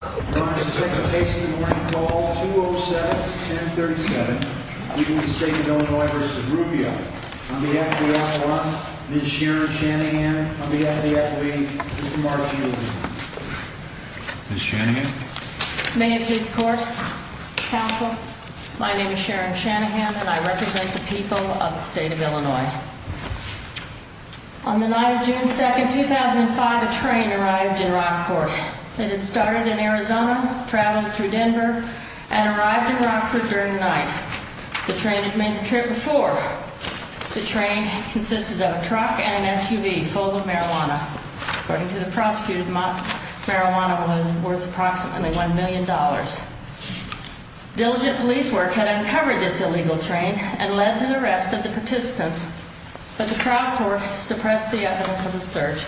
I promise to take the pace of the morning call 207-1037 between the state of Illinois v. Rubio. On behalf of the F1, Ms. Sharon Shanahan, on behalf of the F1, Mr. Markey, you are dismissed. Ms. Shanahan? Mayors of this court, counsel, my name is Sharon Shanahan and I represent the people of the state of Illinois. On the night of June 2, 2005, a train arrived in Rockport. It had started in Arizona, traveled through Denver, and arrived in Rockport during the night. The train had made the trip before. The train consisted of a truck and an SUV full of marijuana. According to the prosecutor, the amount of marijuana was worth approximately $1 million. Diligent police work had uncovered this illegal train and led to the arrest of the participants. But the trial court suppressed the evidence of the search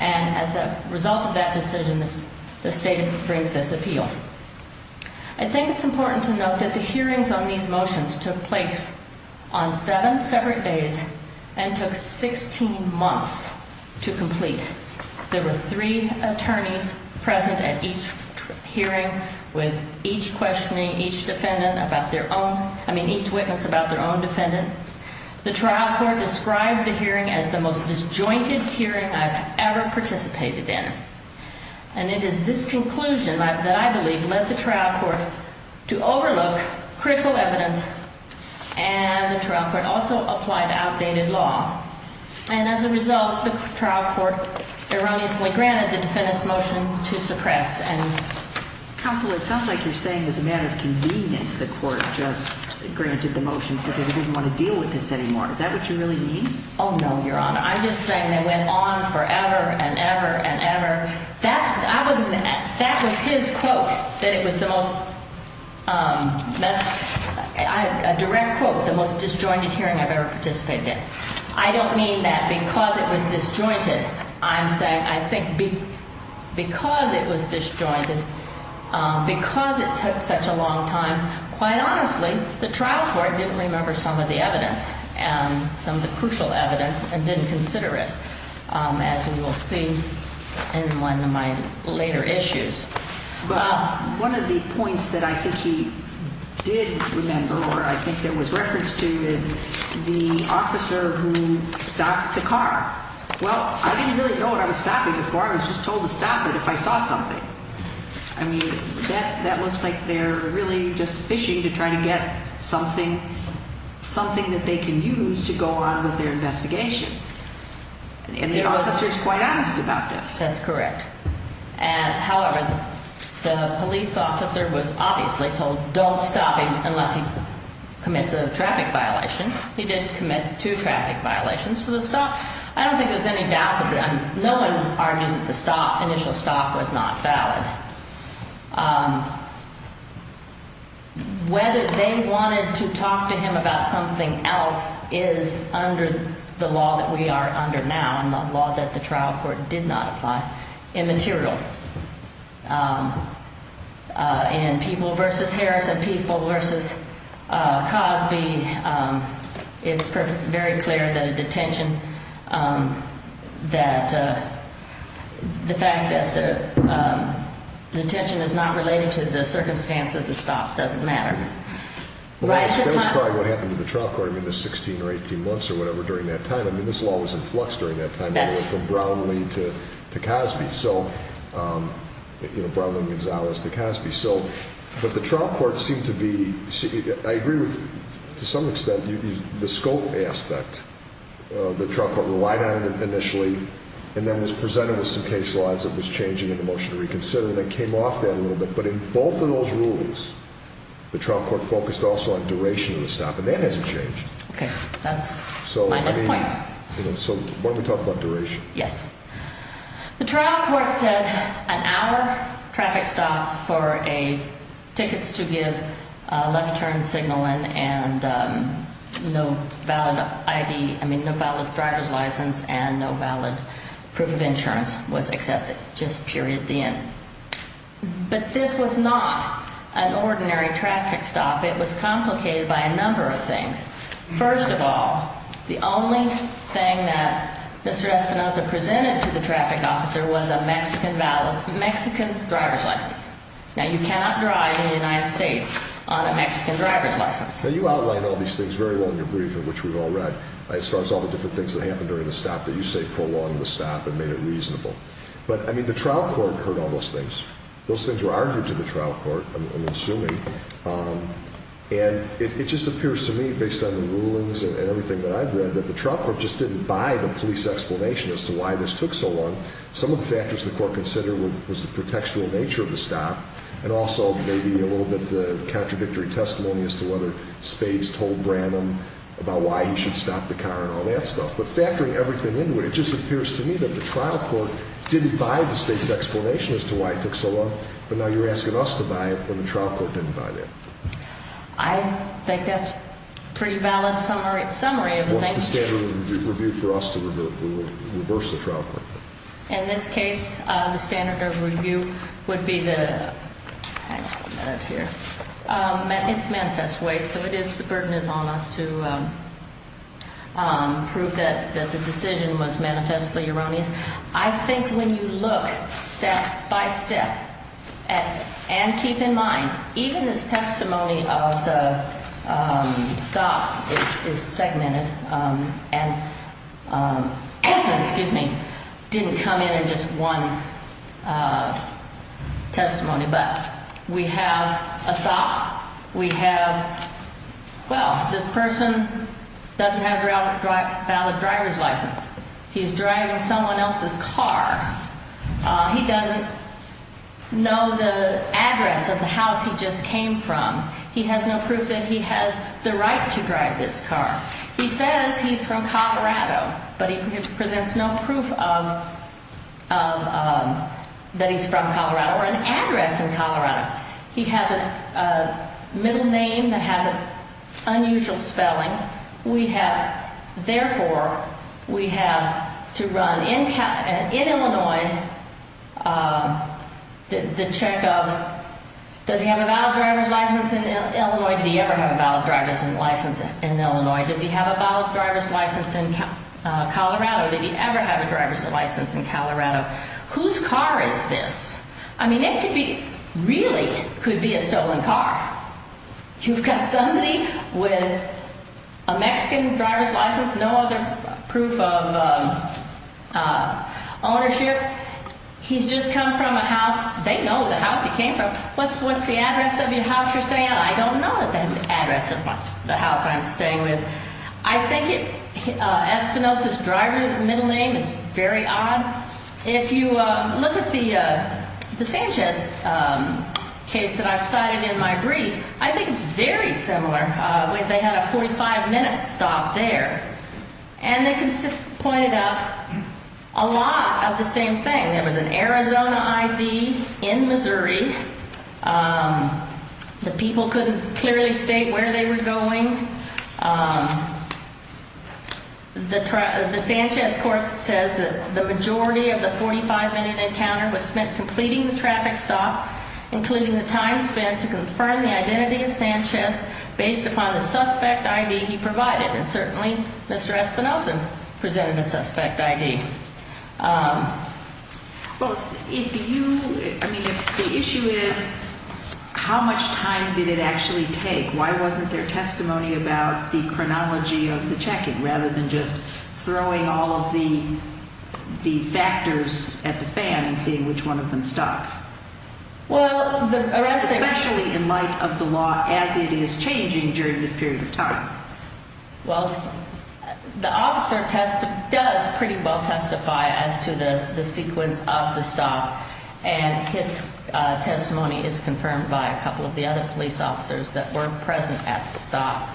and as a result of that decision, the state brings this appeal. I think it's important to note that the hearings on these motions took place on seven separate days and took 16 months to complete. There were three attorneys present at each hearing with each questioning each witness about their own defendant. The trial court described the hearing as the most disjointed hearing I've ever participated in. And it is this conclusion that I believe led the trial court to overlook critical evidence and the trial court also applied outdated law. And as a result, the trial court erroneously granted the defendant's motion to suppress. Counsel, it sounds like you're saying as a matter of convenience the court just granted the motion because it didn't want to deal with this anymore. Is that what you really mean? Oh, no, Your Honor. I'm just saying they went on forever and ever and ever. That was his quote that it was the most, a direct quote, the most disjointed hearing I've ever participated in. I don't mean that because it was disjointed. I'm saying I think because it was disjointed, because it took such a long time, quite honestly, the trial court didn't remember some of the evidence, some of the crucial evidence, and didn't consider it, as we will see in one of my later issues. Well, one of the points that I think he did remember or I think that was referenced to is the officer who stopped the car. Well, I didn't really know what I was stopping before. I was just told to stop it if I saw something. I mean, that looks like they're really just fishing to try to get something that they can use to go on with their investigation. And the officer is quite honest about this. That's correct. However, the police officer was obviously told don't stop him unless he commits a traffic violation. He did commit two traffic violations to the stop. I don't think there's any doubt of that. No one argues that the stop, initial stop, was not valid. Whether they wanted to talk to him about something else is under the law that we are under now and the law that the trial court did not apply. It's not immaterial. In People v. Harris and People v. Cosby, it's very clear that a detention that the fact that the detention is not related to the circumstance of the stop doesn't matter. That's probably what happened to the trial court in the 16 or 18 months or whatever during that time. I mean, this law was in flux during that time, going from Brownlee to Cosby. So, you know, Brownlee and Gonzalez to Cosby. But the trial court seemed to be – I agree with, to some extent, the scope aspect the trial court relied on initially and then was presented with some case laws that was changing in the motion to reconsider that came off that a little bit. But in both of those rulings, the trial court focused also on duration of the stop, and that hasn't changed. Okay, that's my next point. So why don't we talk about duration? Yes. The trial court said an hour traffic stop for tickets to give left-turn signaling and no valid driver's license and no valid proof of insurance was excessive, just period, the end. But this was not an ordinary traffic stop. It was complicated by a number of things. First of all, the only thing that Mr. Espinosa presented to the traffic officer was a Mexican driver's license. Now, you cannot drive in the United States on a Mexican driver's license. Now, you outline all these things very well in your brief, in which we've all read. As far as all the different things that happened during the stop that you say prolonged the stop and made it reasonable. But, I mean, the trial court heard all those things. Those things were argued to the trial court, I'm assuming. And it just appears to me, based on the rulings and everything that I've read, that the trial court just didn't buy the police explanation as to why this took so long. Some of the factors the court considered was the pretextual nature of the stop, and also maybe a little bit the contradictory testimony as to whether Spades told Branham about why he should stop the car and all that stuff. But factoring everything into it, it just appears to me that the trial court didn't buy the state's explanation as to why it took so long. But now you're asking us to buy it when the trial court didn't buy that. I think that's a pretty valid summary of the thing. What's the standard of review for us to reverse the trial court? In this case, the standard of review would be the ‑‑ hang on a minute here. It's manifest weight, so the burden is on us to prove that the decision was manifestly erroneous. I think when you look step by step, and keep in mind, even this testimony of the stop is segmented and didn't come in in just one testimony. But we have a stop. We have, well, this person doesn't have a valid driver's license. He's driving someone else's car. He doesn't know the address of the house he just came from. He has no proof that he has the right to drive this car. He says he's from Colorado, but he presents no proof that he's from Colorado or an address in Colorado. He has a middle name that has an unusual spelling. Therefore, we have to run in Illinois the check of does he have a valid driver's license in Illinois? Did he ever have a valid driver's license in Illinois? Does he have a valid driver's license in Colorado? Did he ever have a driver's license in Colorado? Whose car is this? I mean, it really could be a stolen car. You've got somebody with a Mexican driver's license, no other proof of ownership. He's just come from a house. They know the house he came from. What's the address of your house you're staying at? I don't know the address of the house I'm staying with. I think Espinosa's driver middle name is very odd. If you look at the Sanchez case that I cited in my brief, I think it's very similar. They had a 45-minute stop there, and they pointed out a lot of the same thing. There was an Arizona ID in Missouri. The people couldn't clearly state where they were going. The Sanchez court says that the majority of the 45-minute encounter was spent completing the traffic stop, including the time spent to confirm the identity of Sanchez based upon the suspect ID he provided, and certainly Mr. Espinosa presented a suspect ID. Well, if you – I mean, if the issue is how much time did it actually take, why wasn't there testimony about the chronology of the checking rather than just throwing all of the factors at the fan and seeing which one of them stuck? Well, the arresting – Especially in light of the law as it is changing during this period of time. Well, the officer does pretty well testify as to the sequence of the stop, and his testimony is confirmed by a couple of the other police officers that were present at the stop.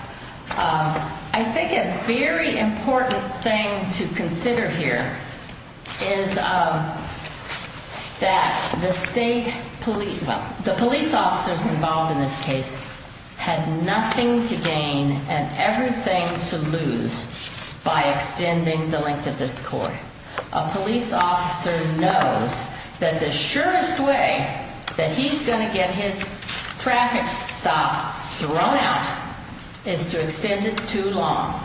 I think a very important thing to consider here is that the state police – well, the police officers involved in this case had nothing to gain and everything to lose by extending the length of this court. A police officer knows that the surest way that he's going to get his traffic stop thrown out is to extend it too long.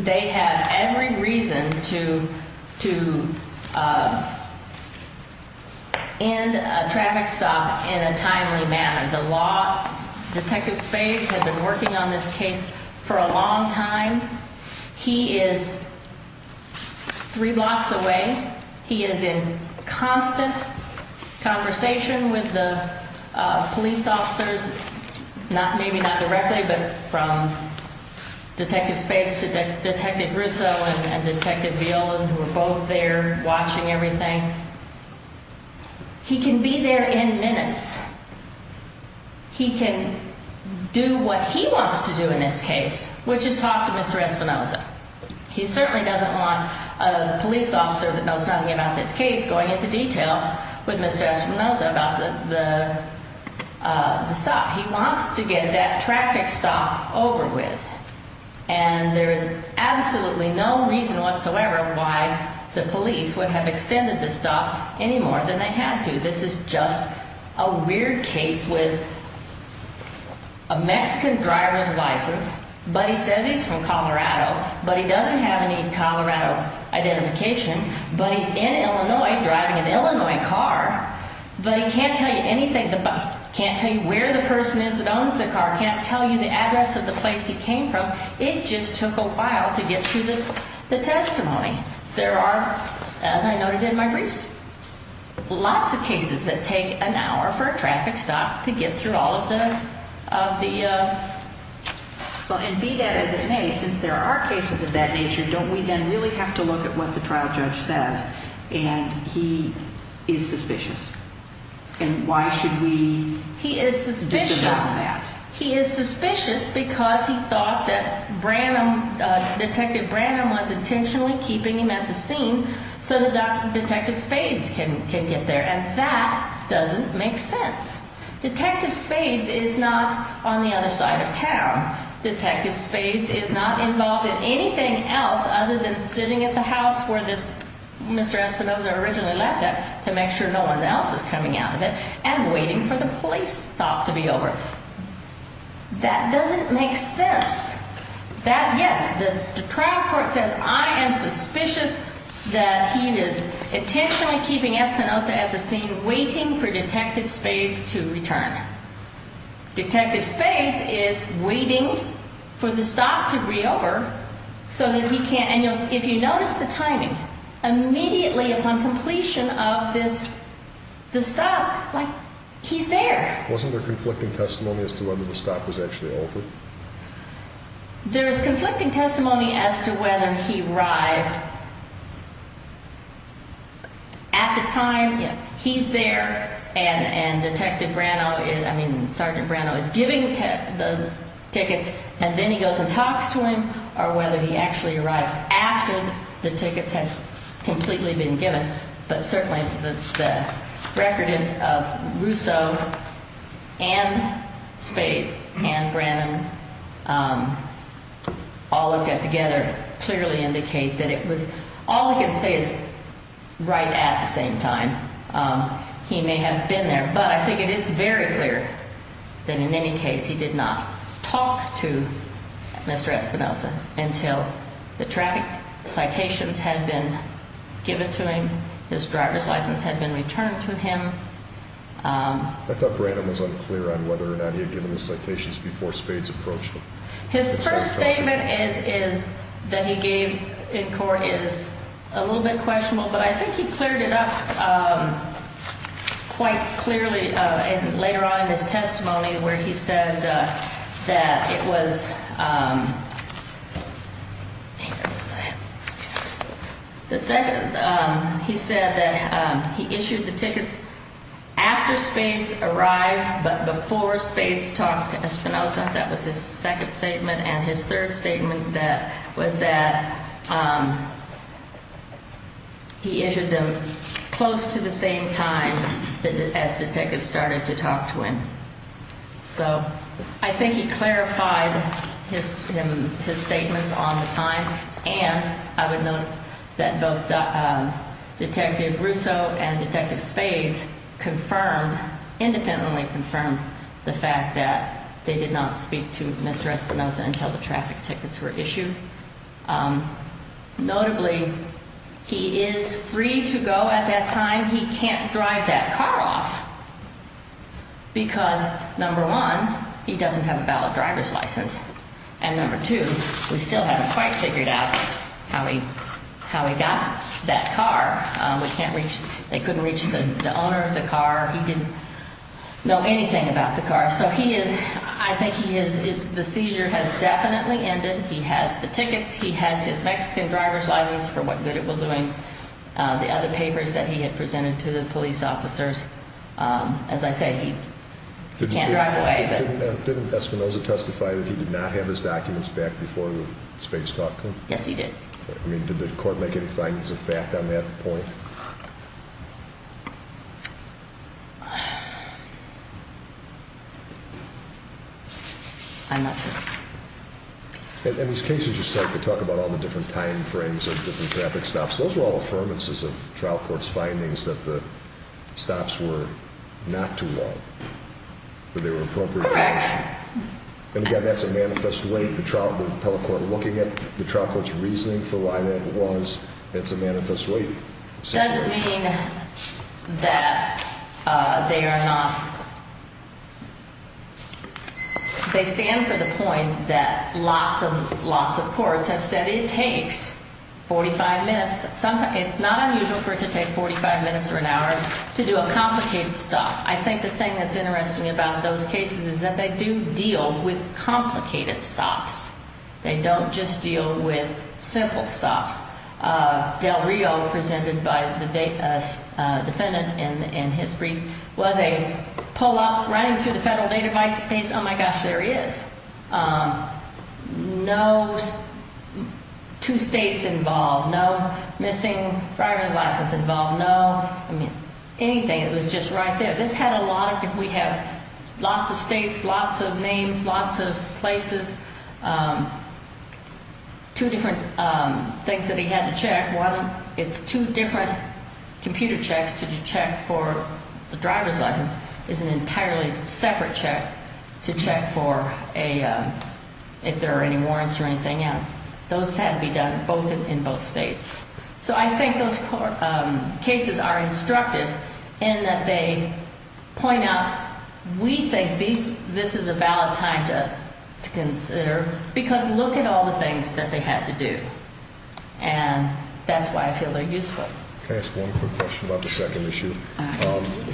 They have every reason to end a traffic stop in a timely manner. The law – Detective Spades had been working on this case for a long time. He is three blocks away. He is in constant conversation with the police officers, maybe not directly, but from Detective Spades to Detective Russo and Detective Viola, who were both there watching everything. He can be there in minutes. He can do what he wants to do in this case, which is talk to Mr. Espinosa. He certainly doesn't want a police officer that knows nothing about this case going into detail with Mr. Espinosa about the stop. He wants to get that traffic stop over with, and there is absolutely no reason whatsoever why the police would have extended the stop any more than they had to. This is just a weird case with a Mexican driver's license, but he says he's from Colorado, but he doesn't have any Colorado identification, but he's in Illinois driving an Illinois car, but he can't tell you anything. He can't tell you where the person is that owns the car. He can't tell you the address of the place he came from. It just took a while to get to the testimony. There are, as I noted in my briefs, lots of cases that take an hour for a traffic stop to get through all of the – Well, and be that as it may, since there are cases of that nature, don't we then really have to look at what the trial judge says, and he is suspicious, and why should we disavow that? He is suspicious because he thought that Detective Branham was intentionally keeping him at the scene so that Detective Spades can get there, and that doesn't make sense. Detective Spades is not on the other side of town. Detective Spades is not involved in anything else other than sitting at the house where Mr. Espinosa originally left it to make sure no one else is coming out of it and waiting for the police stop to be over. That doesn't make sense. Yes, the trial court says, I am suspicious that he is intentionally keeping Espinosa at the scene waiting for Detective Spades to return. Detective Spades is waiting for the stop to be over so that he can – and if you notice the timing, immediately upon completion of the stop, he's there. Wasn't there conflicting testimony as to whether the stop was actually over? There is conflicting testimony as to whether he arrived at the time he's there, and Detective Branham – I mean Sergeant Branham is giving the tickets, and then he goes and talks to him, or whether he actually arrived after the tickets had completely been given. But certainly the record of Russo and Spades and Branham all looked at together clearly indicate that it was – all we can say is right at the same time he may have been there. But I think it is very clear that in any case he did not talk to Mr. Espinosa until the traffic citations had been given to him, his driver's license had been returned to him. I thought Branham was unclear on whether or not he had given the citations before Spades approached him. His first statement that he gave in court is a little bit questionable, but I think he cleared it up quite clearly later on in his testimony where he said that it was – the second he said that he issued the tickets after Spades arrived, but before Spades talked to Espinosa. That was his second statement, and his third statement was that he issued them close to the same time as Detectives started to talk to him. So I think he clarified his statements on the time, and I would note that both Detective Russo and Detective Spades confirmed – independently confirmed the fact that they did not speak to Mr. Espinosa until the traffic tickets were issued. Notably, he is free to go at that time. He can't drive that car off because, number one, he doesn't have a valid driver's license, and number two, we still haven't quite figured out how he got that car. We can't reach – they couldn't reach the owner of the car. He didn't know anything about the car. So he is – I think he is – the seizure has definitely ended. He has the tickets. He has his Mexican driver's license for what good it will do him. The other papers that he had presented to the police officers, as I say, he can't drive away. Didn't Espinosa testify that he did not have his documents back before the Spades talk to him? Yes, he did. Did the court make any findings of fact on that point? I'm not sure. In these cases, you start to talk about all the different time frames of different traffic stops. Those are all affirmances of trial court's findings that the stops were not too long, that they were appropriate. Correct. And again, that's a manifest weight. The trial – the appellate court looking at the trial court's reasoning for why that was, it's a manifest weight. It doesn't mean that they are not – they stand for the point that lots of courts have said it takes 45 minutes. It's not unusual for it to take 45 minutes or an hour to do a complicated stop. I think the thing that's interesting about those cases is that they do deal with complicated stops. They don't just deal with simple stops. Del Rio, presented by the defendant in his brief, was a pull-up running through the federal database. Oh, my gosh, there he is. No two states involved. No missing driver's license involved. No, I mean, anything. It was just right there. This had a lot of – we have lots of states, lots of names, lots of places. Two different things that he had to check. One, it's two different computer checks to check for the driver's license. It's an entirely separate check to check for a – if there are any warrants or anything. Those had to be done both in both states. So I think those cases are instructive in that they point out we think this is a valid time to consider because look at all the things that they had to do. And that's why I feel they're useful. Can I ask one quick question about the second issue? The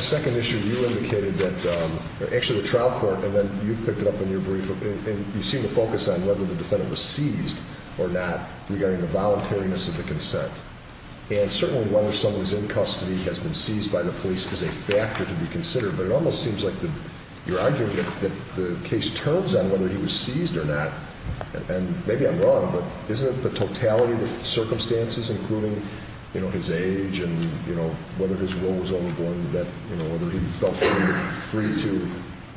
second issue, you indicated that – actually, the trial court, and then you picked it up in your brief. And you seem to focus on whether the defendant was seized or not regarding the voluntariness of the consent. And certainly whether someone's in custody has been seized by the police is a factor to be considered. But it almost seems like you're arguing that the case turns on whether he was seized or not. And maybe I'm wrong, but isn't it the totality of the circumstances, including his age and whether his role was overborne to that, whether he felt free to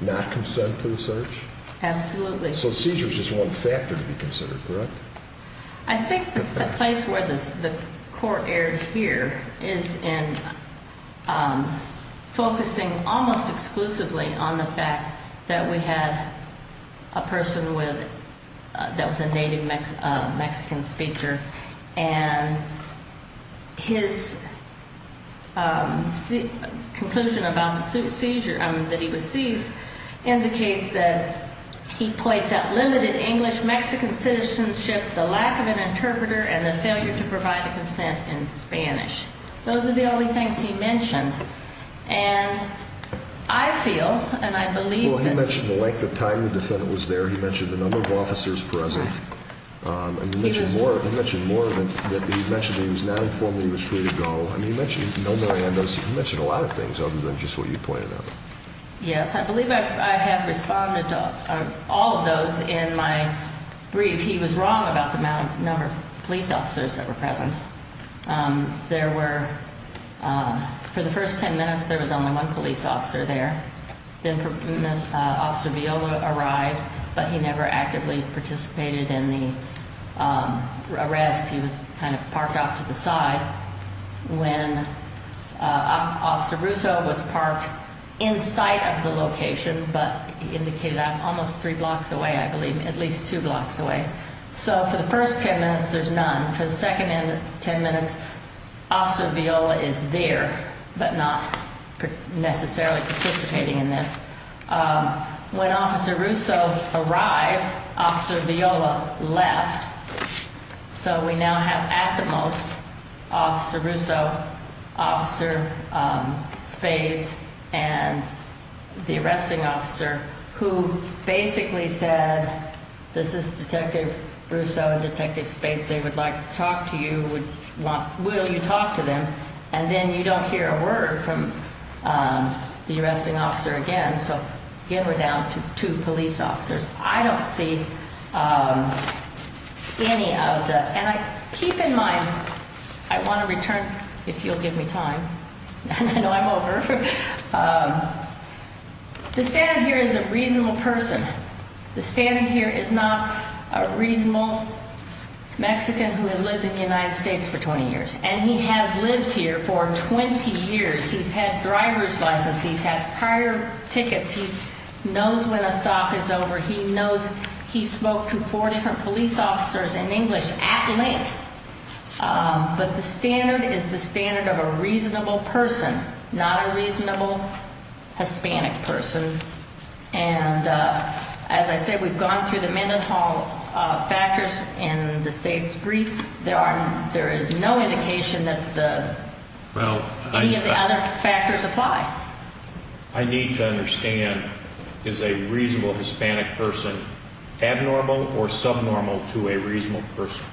not consent to the search? Absolutely. So seizure is just one factor to be considered, correct? I think the place where the court erred here is in focusing almost exclusively on the fact that we had a person that was a native Mexican speaker. And his conclusion about the seizure, I mean, that he was seized, indicates that he points out limited English-Mexican citizenship, the lack of an interpreter, and the failure to provide a consent in Spanish. Those are the only things he mentioned. And I feel and I believe that – He mentioned a number of officers present. He mentioned more of them. He mentioned that he was now informed he was free to go. I mean, he mentioned no Marianas. He mentioned a lot of things other than just what you pointed out. Yes. I believe I have responded to all of those in my brief. He was wrong about the number of police officers that were present. There were, for the first 10 minutes, there was only one police officer there. Then Officer Viola arrived, but he never actively participated in the arrest. He was kind of parked off to the side. When Officer Russo was parked in sight of the location, but he indicated almost three blocks away, I believe, at least two blocks away. So for the first 10 minutes, there's none. For the second 10 minutes, Officer Viola is there but not necessarily participating in this. When Officer Russo arrived, Officer Viola left. So we now have, at the most, Officer Russo, Officer Spades, and the arresting officer, who basically said, this is Detective Russo and Detective Spades. They would like to talk to you. Will you talk to them? And then you don't hear a word from the arresting officer again. So give her down to two police officers. I don't see any of the—and keep in mind, I want to return, if you'll give me time. I know I'm over. The standard here is a reasonable person. The standard here is not a reasonable Mexican who has lived in the United States for 20 years. And he has lived here for 20 years. He's had driver's license. He's had prior tickets. He knows when a stop is over. He knows he spoke to four different police officers in English at length. But the standard is the standard of a reasonable person, not a reasonable Hispanic person. And as I said, we've gone through the mental factors in the state's brief. There is no indication that any of the other factors apply. I need to understand, is a reasonable Hispanic person abnormal or subnormal to a reasonable person?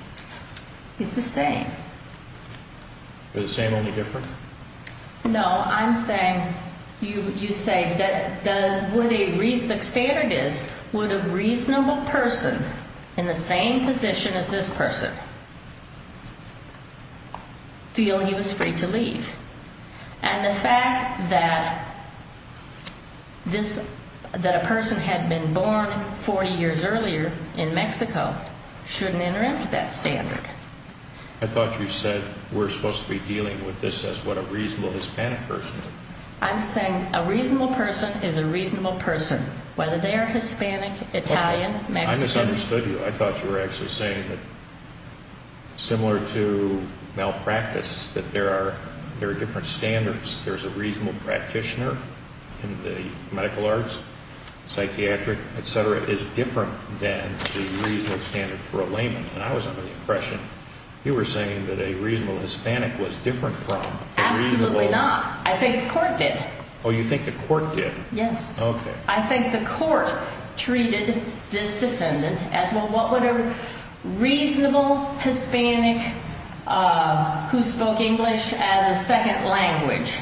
It's the same. Is the same only different? No, I'm saying, you say, the standard is, would a reasonable person in the same position as this person feel he was free to leave? And the fact that this, that a person had been born 40 years earlier in Mexico shouldn't interrupt that standard. I thought you said we're supposed to be dealing with this as what a reasonable Hispanic person. I'm saying a reasonable person is a reasonable person, whether they are Hispanic, Italian, Mexican. I misunderstood you. I thought you were actually saying that, similar to malpractice, that there are different standards. There's a reasonable practitioner in the medical arts, psychiatric, et cetera, is different than the reasonable standard for a layman. And I was under the impression you were saying that a reasonable Hispanic was different from a reasonable. Absolutely not. I think the court did. Oh, you think the court did? Yes. Okay. I think the court treated this defendant as, well, what would a reasonable Hispanic who spoke English as a second language?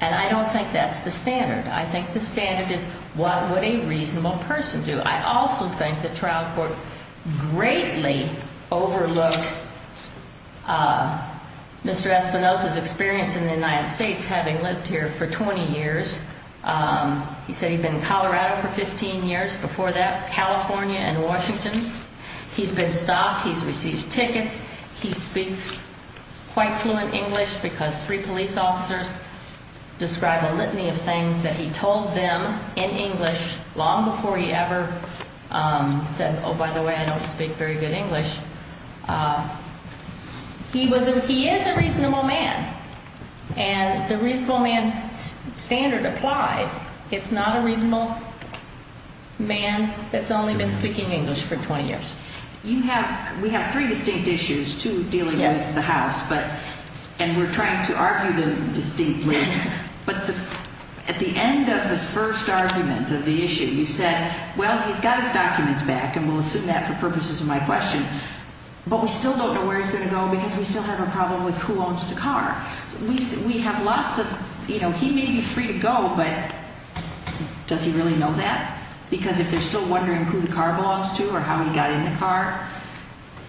And I don't think that's the standard. I think the standard is, what would a reasonable person do? I also think the trial court greatly overlooked Mr. Espinosa's experience in the United States, having lived here for 20 years. He said he'd been in Colorado for 15 years. Before that, California and Washington. He's been stopped. He's received tickets. He speaks quite fluent English because three police officers describe a litany of things that he told them in English long before he ever said, oh, by the way, I don't speak very good English. He is a reasonable man. And the reasonable man standard applies. It's not a reasonable man that's only been speaking English for 20 years. We have three distinct issues, two dealing with the house, and we're trying to argue them distinctly. But at the end of the first argument of the issue, you said, well, he's got his documents back, and we'll assume that for purposes of my question. But we still don't know where he's going to go because we still have a problem with who owns the car. We have lots of, you know, he may be free to go, but does he really know that? Because if they're still wondering who the car belongs to or how he got in the car,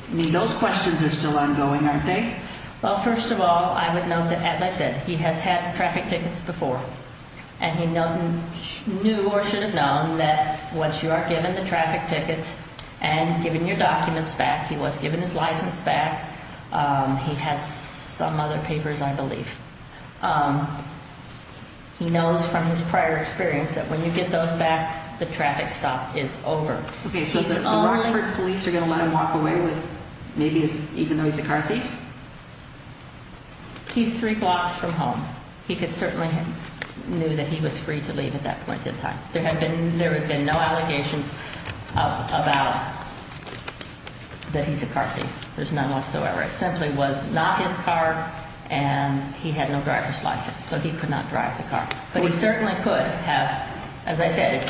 I mean, those questions are still ongoing, aren't they? Well, first of all, I would note that, as I said, he has had traffic tickets before, and he knew or should have known that once you are given the traffic tickets and given your documents back, he was given his license back. He had some other papers, I believe. He knows from his prior experience that when you get those back, the traffic stop is over. Okay, so the Rockford police are going to let him walk away with maybe even though he's a car thief? He's three blocks from home. He certainly knew that he was free to leave at that point in time. There have been no allegations about that he's a car thief. There's none whatsoever. It simply was not his car, and he had no driver's license, so he could not drive the car. But he certainly could have. As I said,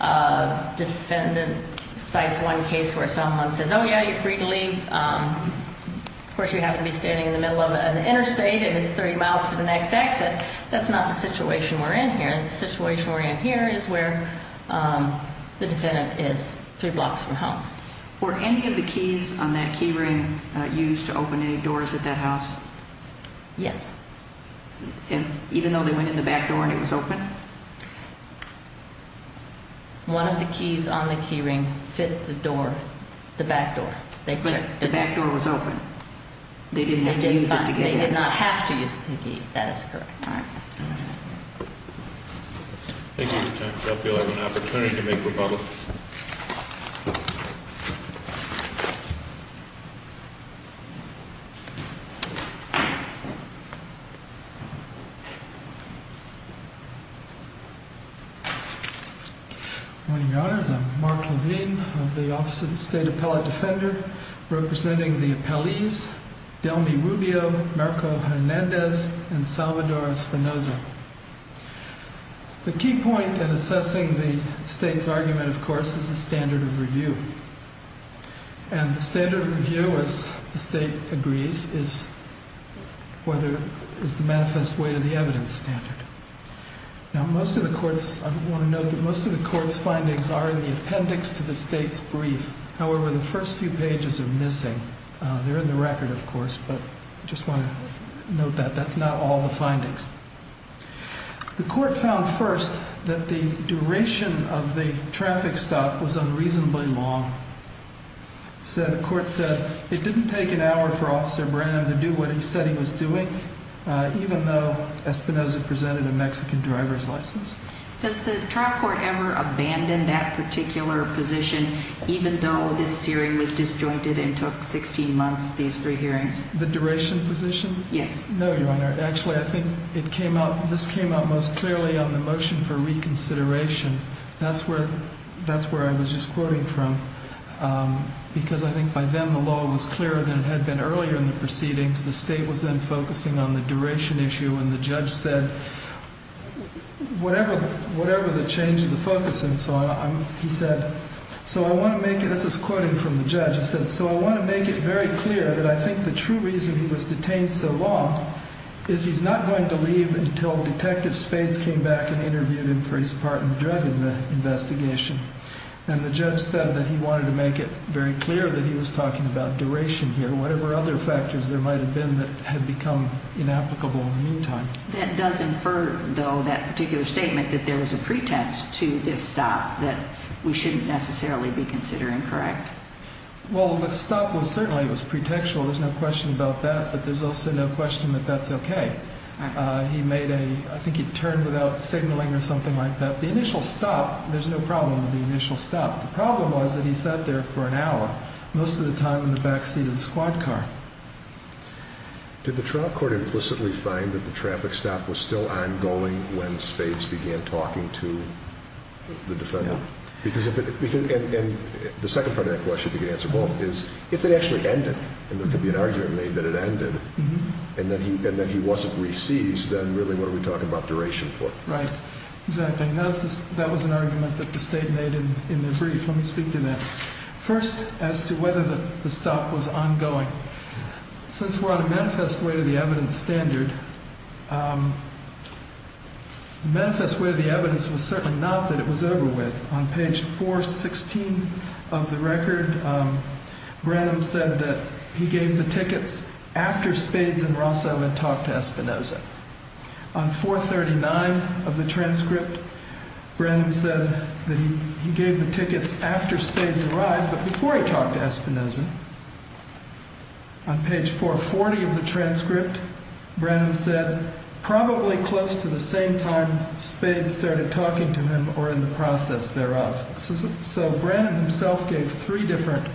a defendant cites one case where someone says, oh, yeah, you're free to leave. Of course, you happen to be standing in the middle of an interstate, and it's 30 miles to the next exit. That's not the situation we're in here. The situation we're in here is where the defendant is three blocks from home. Were any of the keys on that key ring used to open any doors at that house? Yes. Even though they went in the back door and it was open? One of the keys on the key ring fit the door, the back door. But the back door was open. They didn't have to use it to get in. That is correct. All right. Thank you for your time. I feel I have an opportunity to make rebuttals. I'm Mark Levine of the Office of the State Appellate Defender, representing the appellees Delmi Rubio, Marco Hernandez, and Salvador Espinoza. The key point in assessing the state's argument, of course, is the standard of review. And the standard of review, as the state agrees, is whether it's the manifest way to the evidence standard. Now, most of the court's, I want to note that most of the court's findings are in the appendix to the state's brief. However, the first few pages are missing. They're in the record, of course, but I just want to note that that's not all the findings. The court found first that the duration of the traffic stop was unreasonably long. The court said it didn't take an hour for Officer Branham to do what he said he was doing, even though Espinoza presented a Mexican driver's license. Does the trial court ever abandon that particular position, even though this hearing was disjointed and took 16 months, these three hearings? The duration position? Yes. No, Your Honor. Actually, I think this came out most clearly on the motion for reconsideration. That's where I was just quoting from, because I think by then the law was clearer than it had been earlier in the proceedings. The state was then focusing on the duration issue, and the judge said, whatever the change in the focus and so on, he said, so I want to make it, this is quoting from the judge, he said, so I want to make it very clear that I think the true reason he was detained so long is he's not going to leave until Detective Spades came back and interviewed him for his part in the drug investigation. And the judge said that he wanted to make it very clear that he was talking about duration here, whatever other factors there might have been that had become inapplicable in the meantime. That does infer, though, that particular statement that there was a pretext to this stop that we shouldn't necessarily be considering, correct? Well, the stop was certainly, it was pretextual. There's no question about that, but there's also no question that that's okay. He made a, I think he turned without signaling or something like that. The initial stop, there's no problem with the initial stop. The problem was that he sat there for an hour, most of the time in the back seat of the squad car. Did the trial court implicitly find that the traffic stop was still ongoing when Spades began talking to the defendant? No. And the second part of that question, if you could answer both, is if it actually ended, and there could be an argument made that it ended, and that he wasn't re-seized, then really what are we talking about duration for? Right. Exactly. That was an argument that the State made in their brief. Let me speak to that. First, as to whether the stop was ongoing. Since we're on a manifest way to the evidence standard, the manifest way of the evidence was certainly not that it was over with. On page 416 of the record, Branham said that he gave the tickets after Spades and Rosso had talked to Espinoza. On 439 of the transcript, Branham said that he gave the tickets after Spades arrived, but before he talked to Espinoza. On page 440 of the transcript, Branham said, probably close to the same time Spades started talking to him, or in the process thereof. So Branham himself gave three different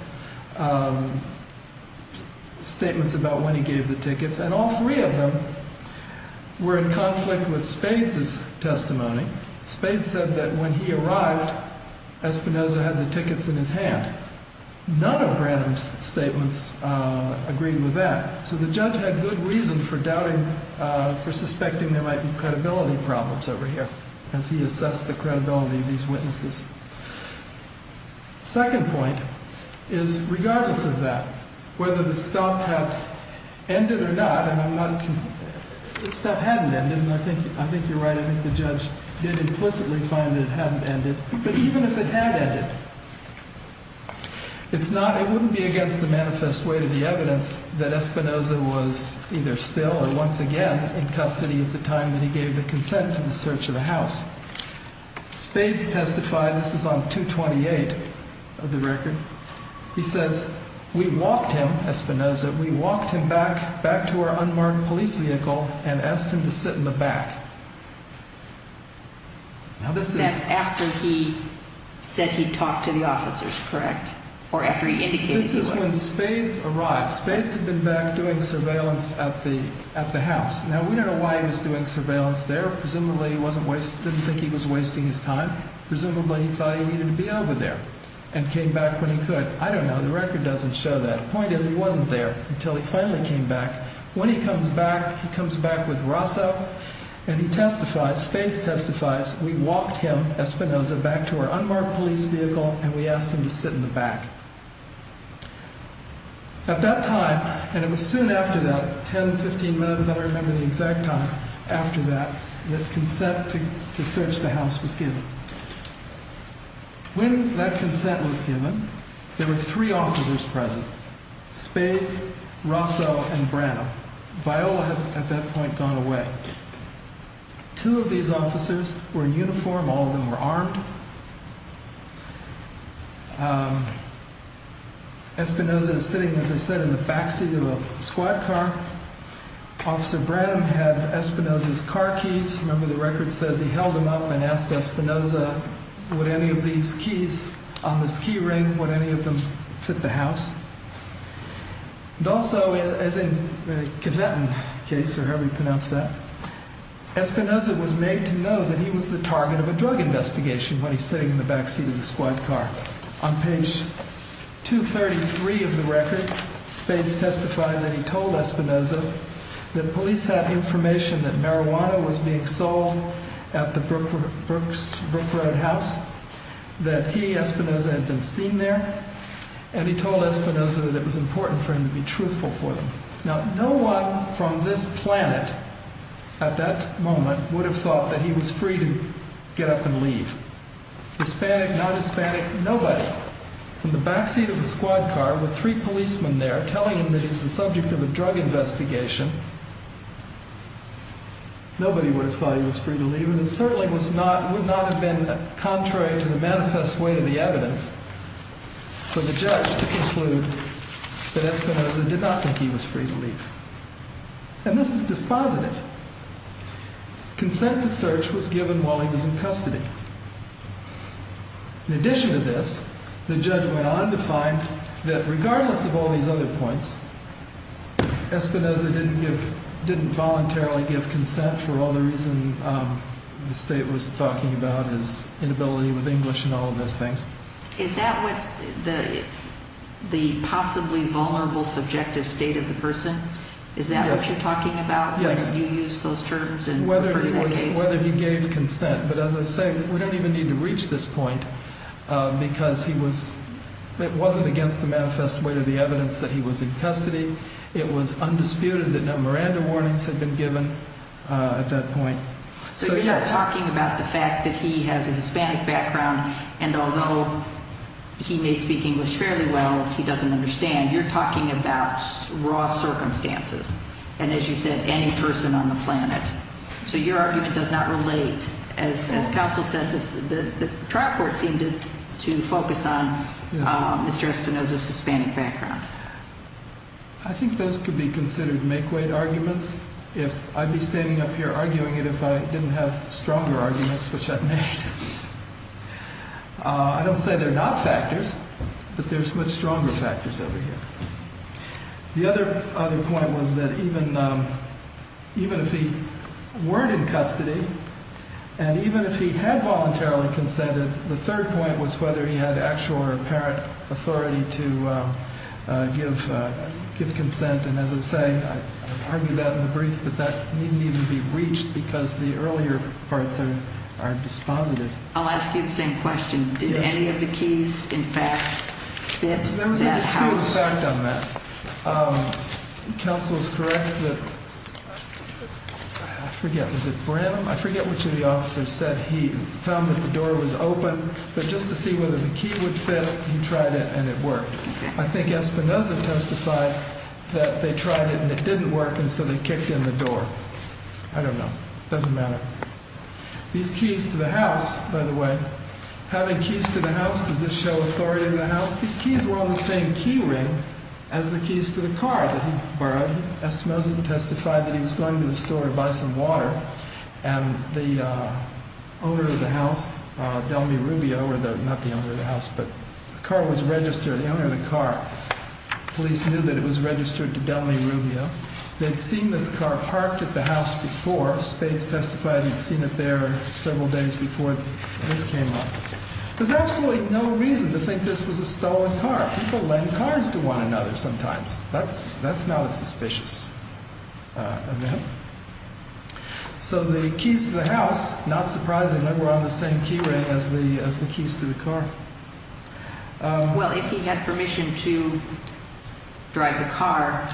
statements about when he gave the tickets, and all three of them were in conflict with Spades' testimony. Spades said that when he arrived, Espinoza had the tickets in his hand. None of Branham's statements agreed with that. So the judge had good reason for doubting, for suspecting there might be credibility problems over here, as he assessed the credibility of these witnesses. Second point is, regardless of that, whether the stop had ended or not, and I'm not, the stop hadn't ended, and I think you're right, I think the judge did implicitly find that it hadn't ended. But even if it had ended, it's not, it wouldn't be against the manifest weight of the evidence that Espinoza was either still or once again in custody at the time that he gave the consent to the search of the house. Spades testified, this is on 228 of the record, he says, we walked him, Espinoza, we walked him back, back to our unmarked police vehicle and asked him to sit in the back. That's after he said he talked to the officers, correct? Or after he indicated to him? This is when Spades arrived. Spades had been back doing surveillance at the house. Now we don't know why he was doing surveillance there. Presumably he didn't think he was wasting his time. Presumably he thought he needed to be over there and came back when he could. I don't know, the record doesn't show that. The point is, he wasn't there until he finally came back. When he comes back, he comes back with Rosso and he testifies, Spades testifies, we walked him, Espinoza, back to our unmarked police vehicle and we asked him to sit in the back. At that time, and it was soon after that, 10, 15 minutes, I don't remember the exact time after that, that consent to search the house was given. When that consent was given, there were three officers present. Spades, Rosso and Branham. Viola had at that point gone away. Two of these officers were in uniform, all of them were armed. Espinoza is sitting, as I said, in the back seat of a squad car. Officer Branham had Espinoza's car keys. Remember the record says he held them up and asked Espinoza, would any of these keys on this key ring, would any of them fit the house? And also, as in the Conventon case, or however you pronounce that, Espinoza was made to know that he was the target of a drug investigation when he's sitting in the back seat of the squad car. On page 233 of the record, Spades testified that he told Espinoza that police had information that marijuana was being sold at the Brook Road house, that he, Espinoza, had been seen there, and he told Espinoza that it was important for him to be truthful for them. Now, no one from this planet at that moment would have thought that he was free to get up and leave. Hispanic, non-Hispanic, nobody. Now, from the back seat of the squad car, with three policemen there telling him that he's the subject of a drug investigation, nobody would have thought he was free to leave, and it certainly would not have been contrary to the manifest way of the evidence for the judge to conclude that Espinoza did not think he was free to leave. And this is dispositive. Consent to search was given while he was in custody. In addition to this, the judge went on to find that regardless of all these other points, Espinoza didn't voluntarily give consent for all the reasons the state was talking about, his inability with English and all of those things. Is that what the possibly vulnerable, subjective state of the person, is that what you're talking about? Whether you used those terms in referring to that case? Whether he gave consent, but as I say, we don't even need to reach this point because he was, it wasn't against the manifest way of the evidence that he was in custody. It was undisputed that no Miranda warnings had been given at that point. So you're not talking about the fact that he has a Hispanic background, and although he may speak English fairly well, he doesn't understand. You're talking about raw circumstances. And as you said, any person on the planet. So your argument does not relate. As counsel said, the trial court seemed to focus on Mr. Espinoza's Hispanic background. I think those could be considered make weight arguments. If I'd be standing up here arguing it if I didn't have stronger arguments, which I've made. I don't say they're not factors, but there's much stronger factors over here. The other point was that even if he weren't in custody, and even if he had voluntarily consented, the third point was whether he had actual or apparent authority to give consent. And as I say, I argued that in the brief, but that needn't even be breached because the earlier parts are dispositive. I'll ask you the same question. Did any of the keys in fact fit? There was a disputed fact on that. Counsel is correct that, I forget, was it Brim? I forget which of the officers said he found that the door was open, but just to see whether the key would fit, he tried it and it worked. I think Espinoza testified that they tried it and it didn't work, and so they kicked in the door. I don't know. It doesn't matter. These keys to the house, by the way, having keys to the house, does this show authority to the house? These keys were on the same key ring as the keys to the car that he borrowed. Espinoza testified that he was going to the store to buy some water, and the owner of the house, Delmi Rubio, or not the owner of the house, but the car was registered, the owner of the car, police knew that it was registered to Delmi Rubio. They'd seen this car parked at the house before. Spades testified he'd seen it there several days before this came up. There's absolutely no reason to think this was a stolen car. People lend cars to one another sometimes. That's not as suspicious of them. So the keys to the house, not surprisingly, were on the same key ring as the keys to the car. Well, if he had permission to drive the car,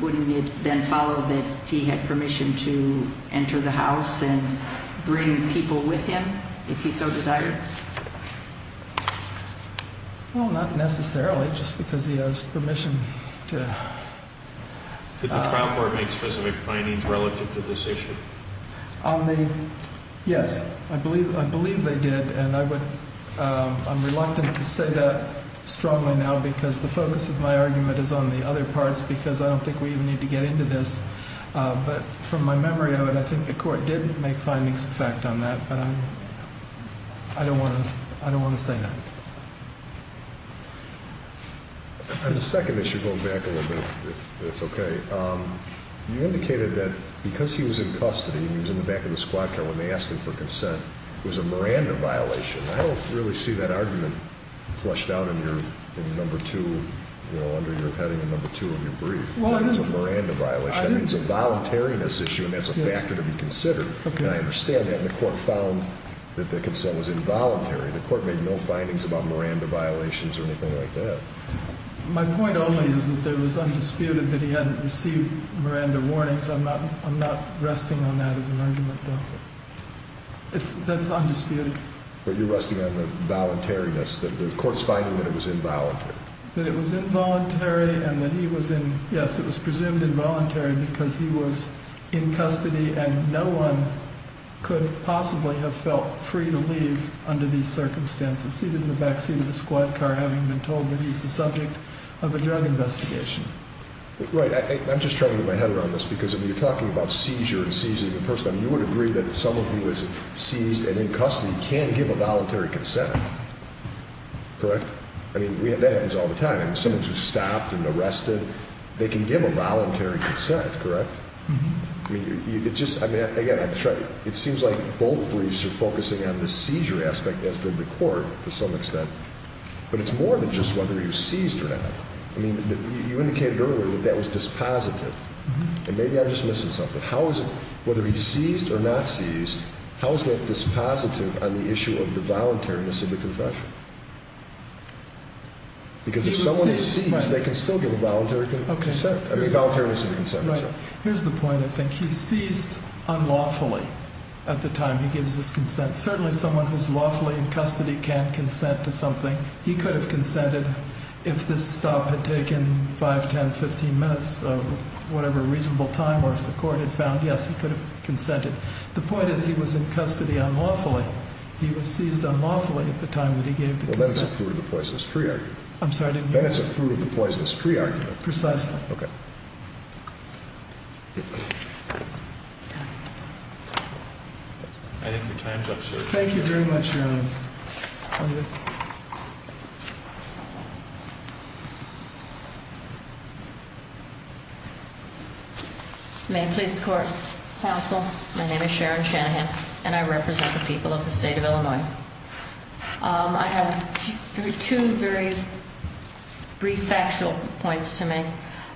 wouldn't it then follow that he had permission to enter the house and bring people with him, if he so desired? Well, not necessarily, just because he has permission to. Did the trial court make specific findings relative to this issue? Yes, I believe they did, and I'm reluctant to say that strongly now because the focus of my argument is on the other parts because I don't think we even need to get into this. But from my memory of it, I think the court did make findings of fact on that, but I don't want to say that. On the second issue, going back a little bit, if that's okay, you indicated that because he was in custody, he was in the back of the squad car when they asked him for consent, it was a Miranda violation. I don't really see that argument flushed out in your number two, under your heading, in number two of your brief. It's a Miranda violation. It's a voluntariness issue, and that's a factor to be considered, and I understand that. I understand the court found that the consent was involuntary. The court made no findings about Miranda violations or anything like that. My point only is that there was undisputed that he hadn't received Miranda warnings. I'm not resting on that as an argument, though. That's undisputed. But you're resting on the voluntariness, the court's finding that it was involuntary. Yes, it was presumed involuntary because he was in custody, and no one could possibly have felt free to leave under these circumstances, seated in the back seat of the squad car, having been told that he's the subject of a drug investigation. Right. I'm just trying to get my head around this, because when you're talking about seizure and seizing a person, you would agree that someone who was seized and in custody can give a voluntary consent, correct? I mean, that happens all the time. I mean, someone who's stopped and arrested, they can give a voluntary consent, correct? Mm-hmm. I mean, it just, I mean, again, it seems like both of these are focusing on the seizure aspect as did the court to some extent, but it's more than just whether he was seized or not. I mean, you indicated earlier that that was dispositive, and maybe I'm just missing something. How is it, whether he's seized or not seized, how is that dispositive on the issue of the voluntariness of the confession? Because if someone is seized, they can still give a voluntary consent. I mean, voluntariness of the consent. Right. Here's the point, I think. He's seized unlawfully at the time he gives his consent. Certainly someone who's lawfully in custody can't consent to something. He could have consented if this stop had taken 5, 10, 15 minutes of whatever reasonable time, or if the court had found, yes, he could have consented. The point is he was in custody unlawfully. He was seized unlawfully at the time that he gave the consent. Well, then it's a fruit of the poisonous tree argument. I'm sorry, I didn't hear you. Then it's a fruit of the poisonous tree argument. Precisely. Okay. I think your time's up, sir. Thank you very much, Your Honor. May it please the Court. Counsel, my name is Sharon Shanahan, and I represent the people of the state of Illinois. I have two very brief factual points to make.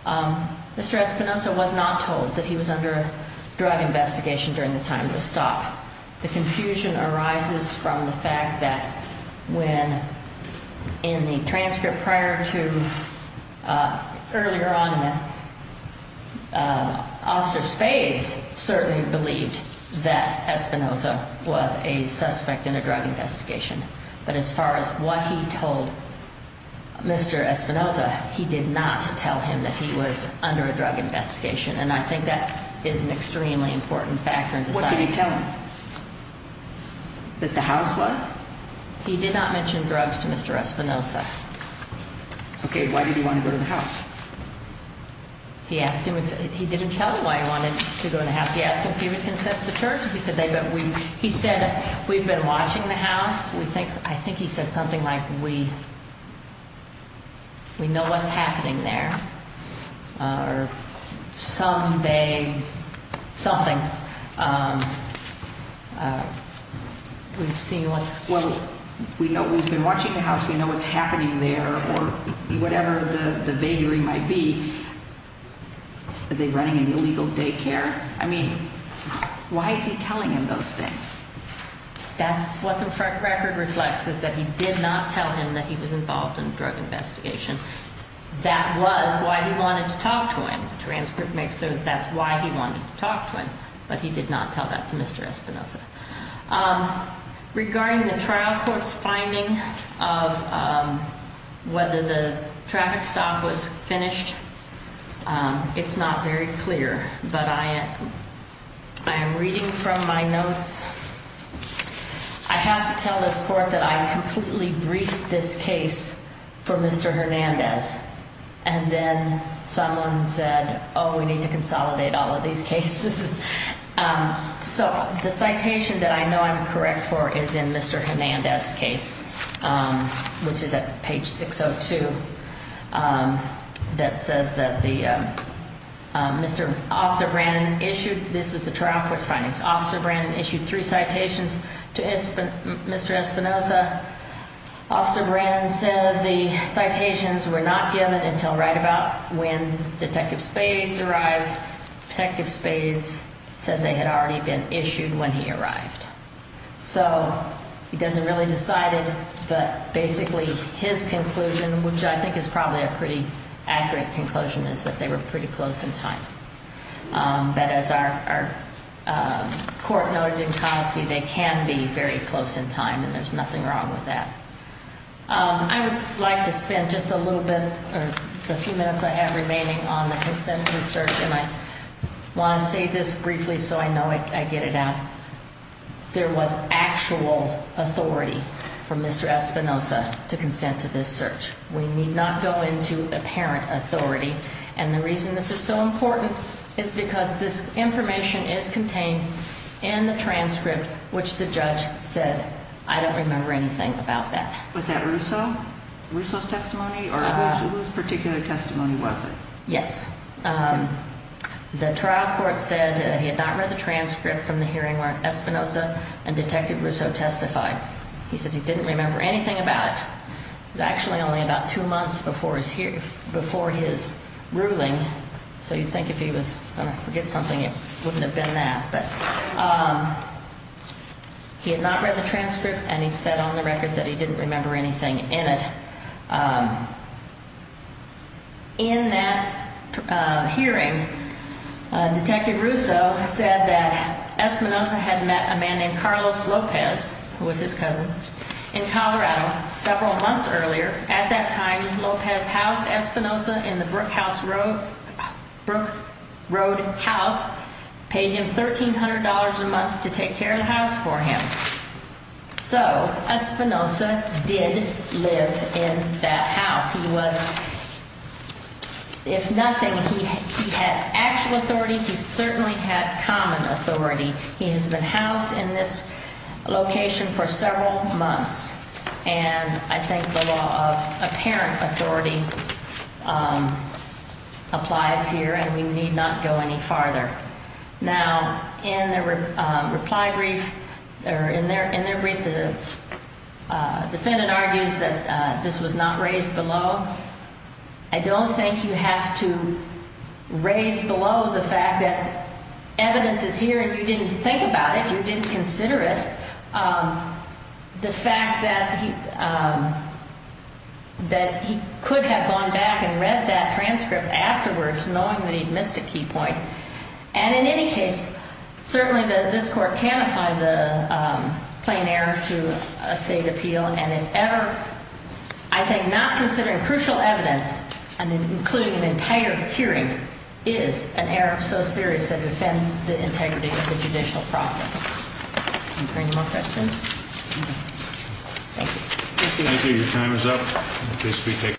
Mr. Espinosa was not told that he was under drug investigation during the time of the stop. The confusion arises from the fact that when in the transcript prior to earlier on, Officer Spades certainly believed that Espinosa was a suspect in a drug investigation. But as far as what he told Mr. Espinosa, he did not tell him that he was under a drug investigation. And I think that is an extremely important factor in deciding. Did he tell him that the house was? He did not mention drugs to Mr. Espinosa. Okay, why did he want to go to the house? He didn't tell him why he wanted to go to the house. He asked him if he would consent to the charge. He said, we've been watching the house. I think he said something like, we know what's happening there. Or some vague something. We've seen what's... Well, we know we've been watching the house. We know what's happening there, or whatever the vagary might be. Are they running an illegal daycare? I mean, why is he telling him those things? That's what the record reflects, is that he did not tell him that he was involved in a drug investigation. That was why he wanted to talk to him. The transcript makes it so that's why he wanted to talk to him. But he did not tell that to Mr. Espinosa. Regarding the trial court's finding of whether the traffic stop was finished, it's not very clear. But I am reading from my notes. I have to tell this court that I completely briefed this case for Mr. Hernandez. And then someone said, oh, we need to consolidate all of these cases. So the citation that I know I'm correct for is in Mr. Hernandez's case, which is at page 602. That says that Mr. Officer Brannon issued... This is the trial court's findings. Officer Brannon issued three citations to Mr. Espinosa. Officer Brannon said the citations were not given until right about when Detective Spades arrived. Detective Spades said they had already been issued when he arrived. So he doesn't really decide it, but basically his conclusion, which I think is probably a pretty accurate conclusion, is that they were pretty close in time. But as our court noted in Cosby, they can be very close in time, and there's nothing wrong with that. I would like to spend just a little bit, or the few minutes I have remaining, on the consent research. And I want to say this briefly so I know I get it out. There was actual authority from Mr. Espinosa to consent to this search. We need not go into apparent authority. And the reason this is so important is because this information is contained in the transcript, which the judge said, I don't remember anything about that. Was that Russo? Russo's testimony? Or whose particular testimony was it? Yes. The trial court said that he had not read the transcript from the hearing where Espinosa and Detective Russo testified. He said he didn't remember anything about it. It was actually only about two months before his ruling, so you'd think if he was going to forget something, it wouldn't have been that. But he had not read the transcript, and he said on the record that he didn't remember anything in it. In that hearing, Detective Russo said that Espinosa had met a man named Carlos Lopez, who was his cousin, in Colorado several months earlier. At that time, Lopez housed Espinosa in the Brook Road house, paid him $1,300 a month to take care of the house for him. So Espinosa did live in that house. He was, if nothing, he had actual authority. He certainly had common authority. He has been housed in this location for several months. And I think the law of apparent authority applies here, and we need not go any farther. Now, in their reply brief, or in their brief, the defendant argues that this was not raised below. I don't think you have to raise below the fact that evidence is here and you didn't think about it, you didn't consider it. The fact that he could have gone back and read that transcript afterwards, knowing that he'd missed a key point. And in any case, certainly this court can apply the plain error to a state appeal. And if ever, I think not considering crucial evidence, including an entire hearing, is an error so serious that it offends the integrity of the judicial process. Any more questions? Thank you. Thank you. Your time is up. Please be taken.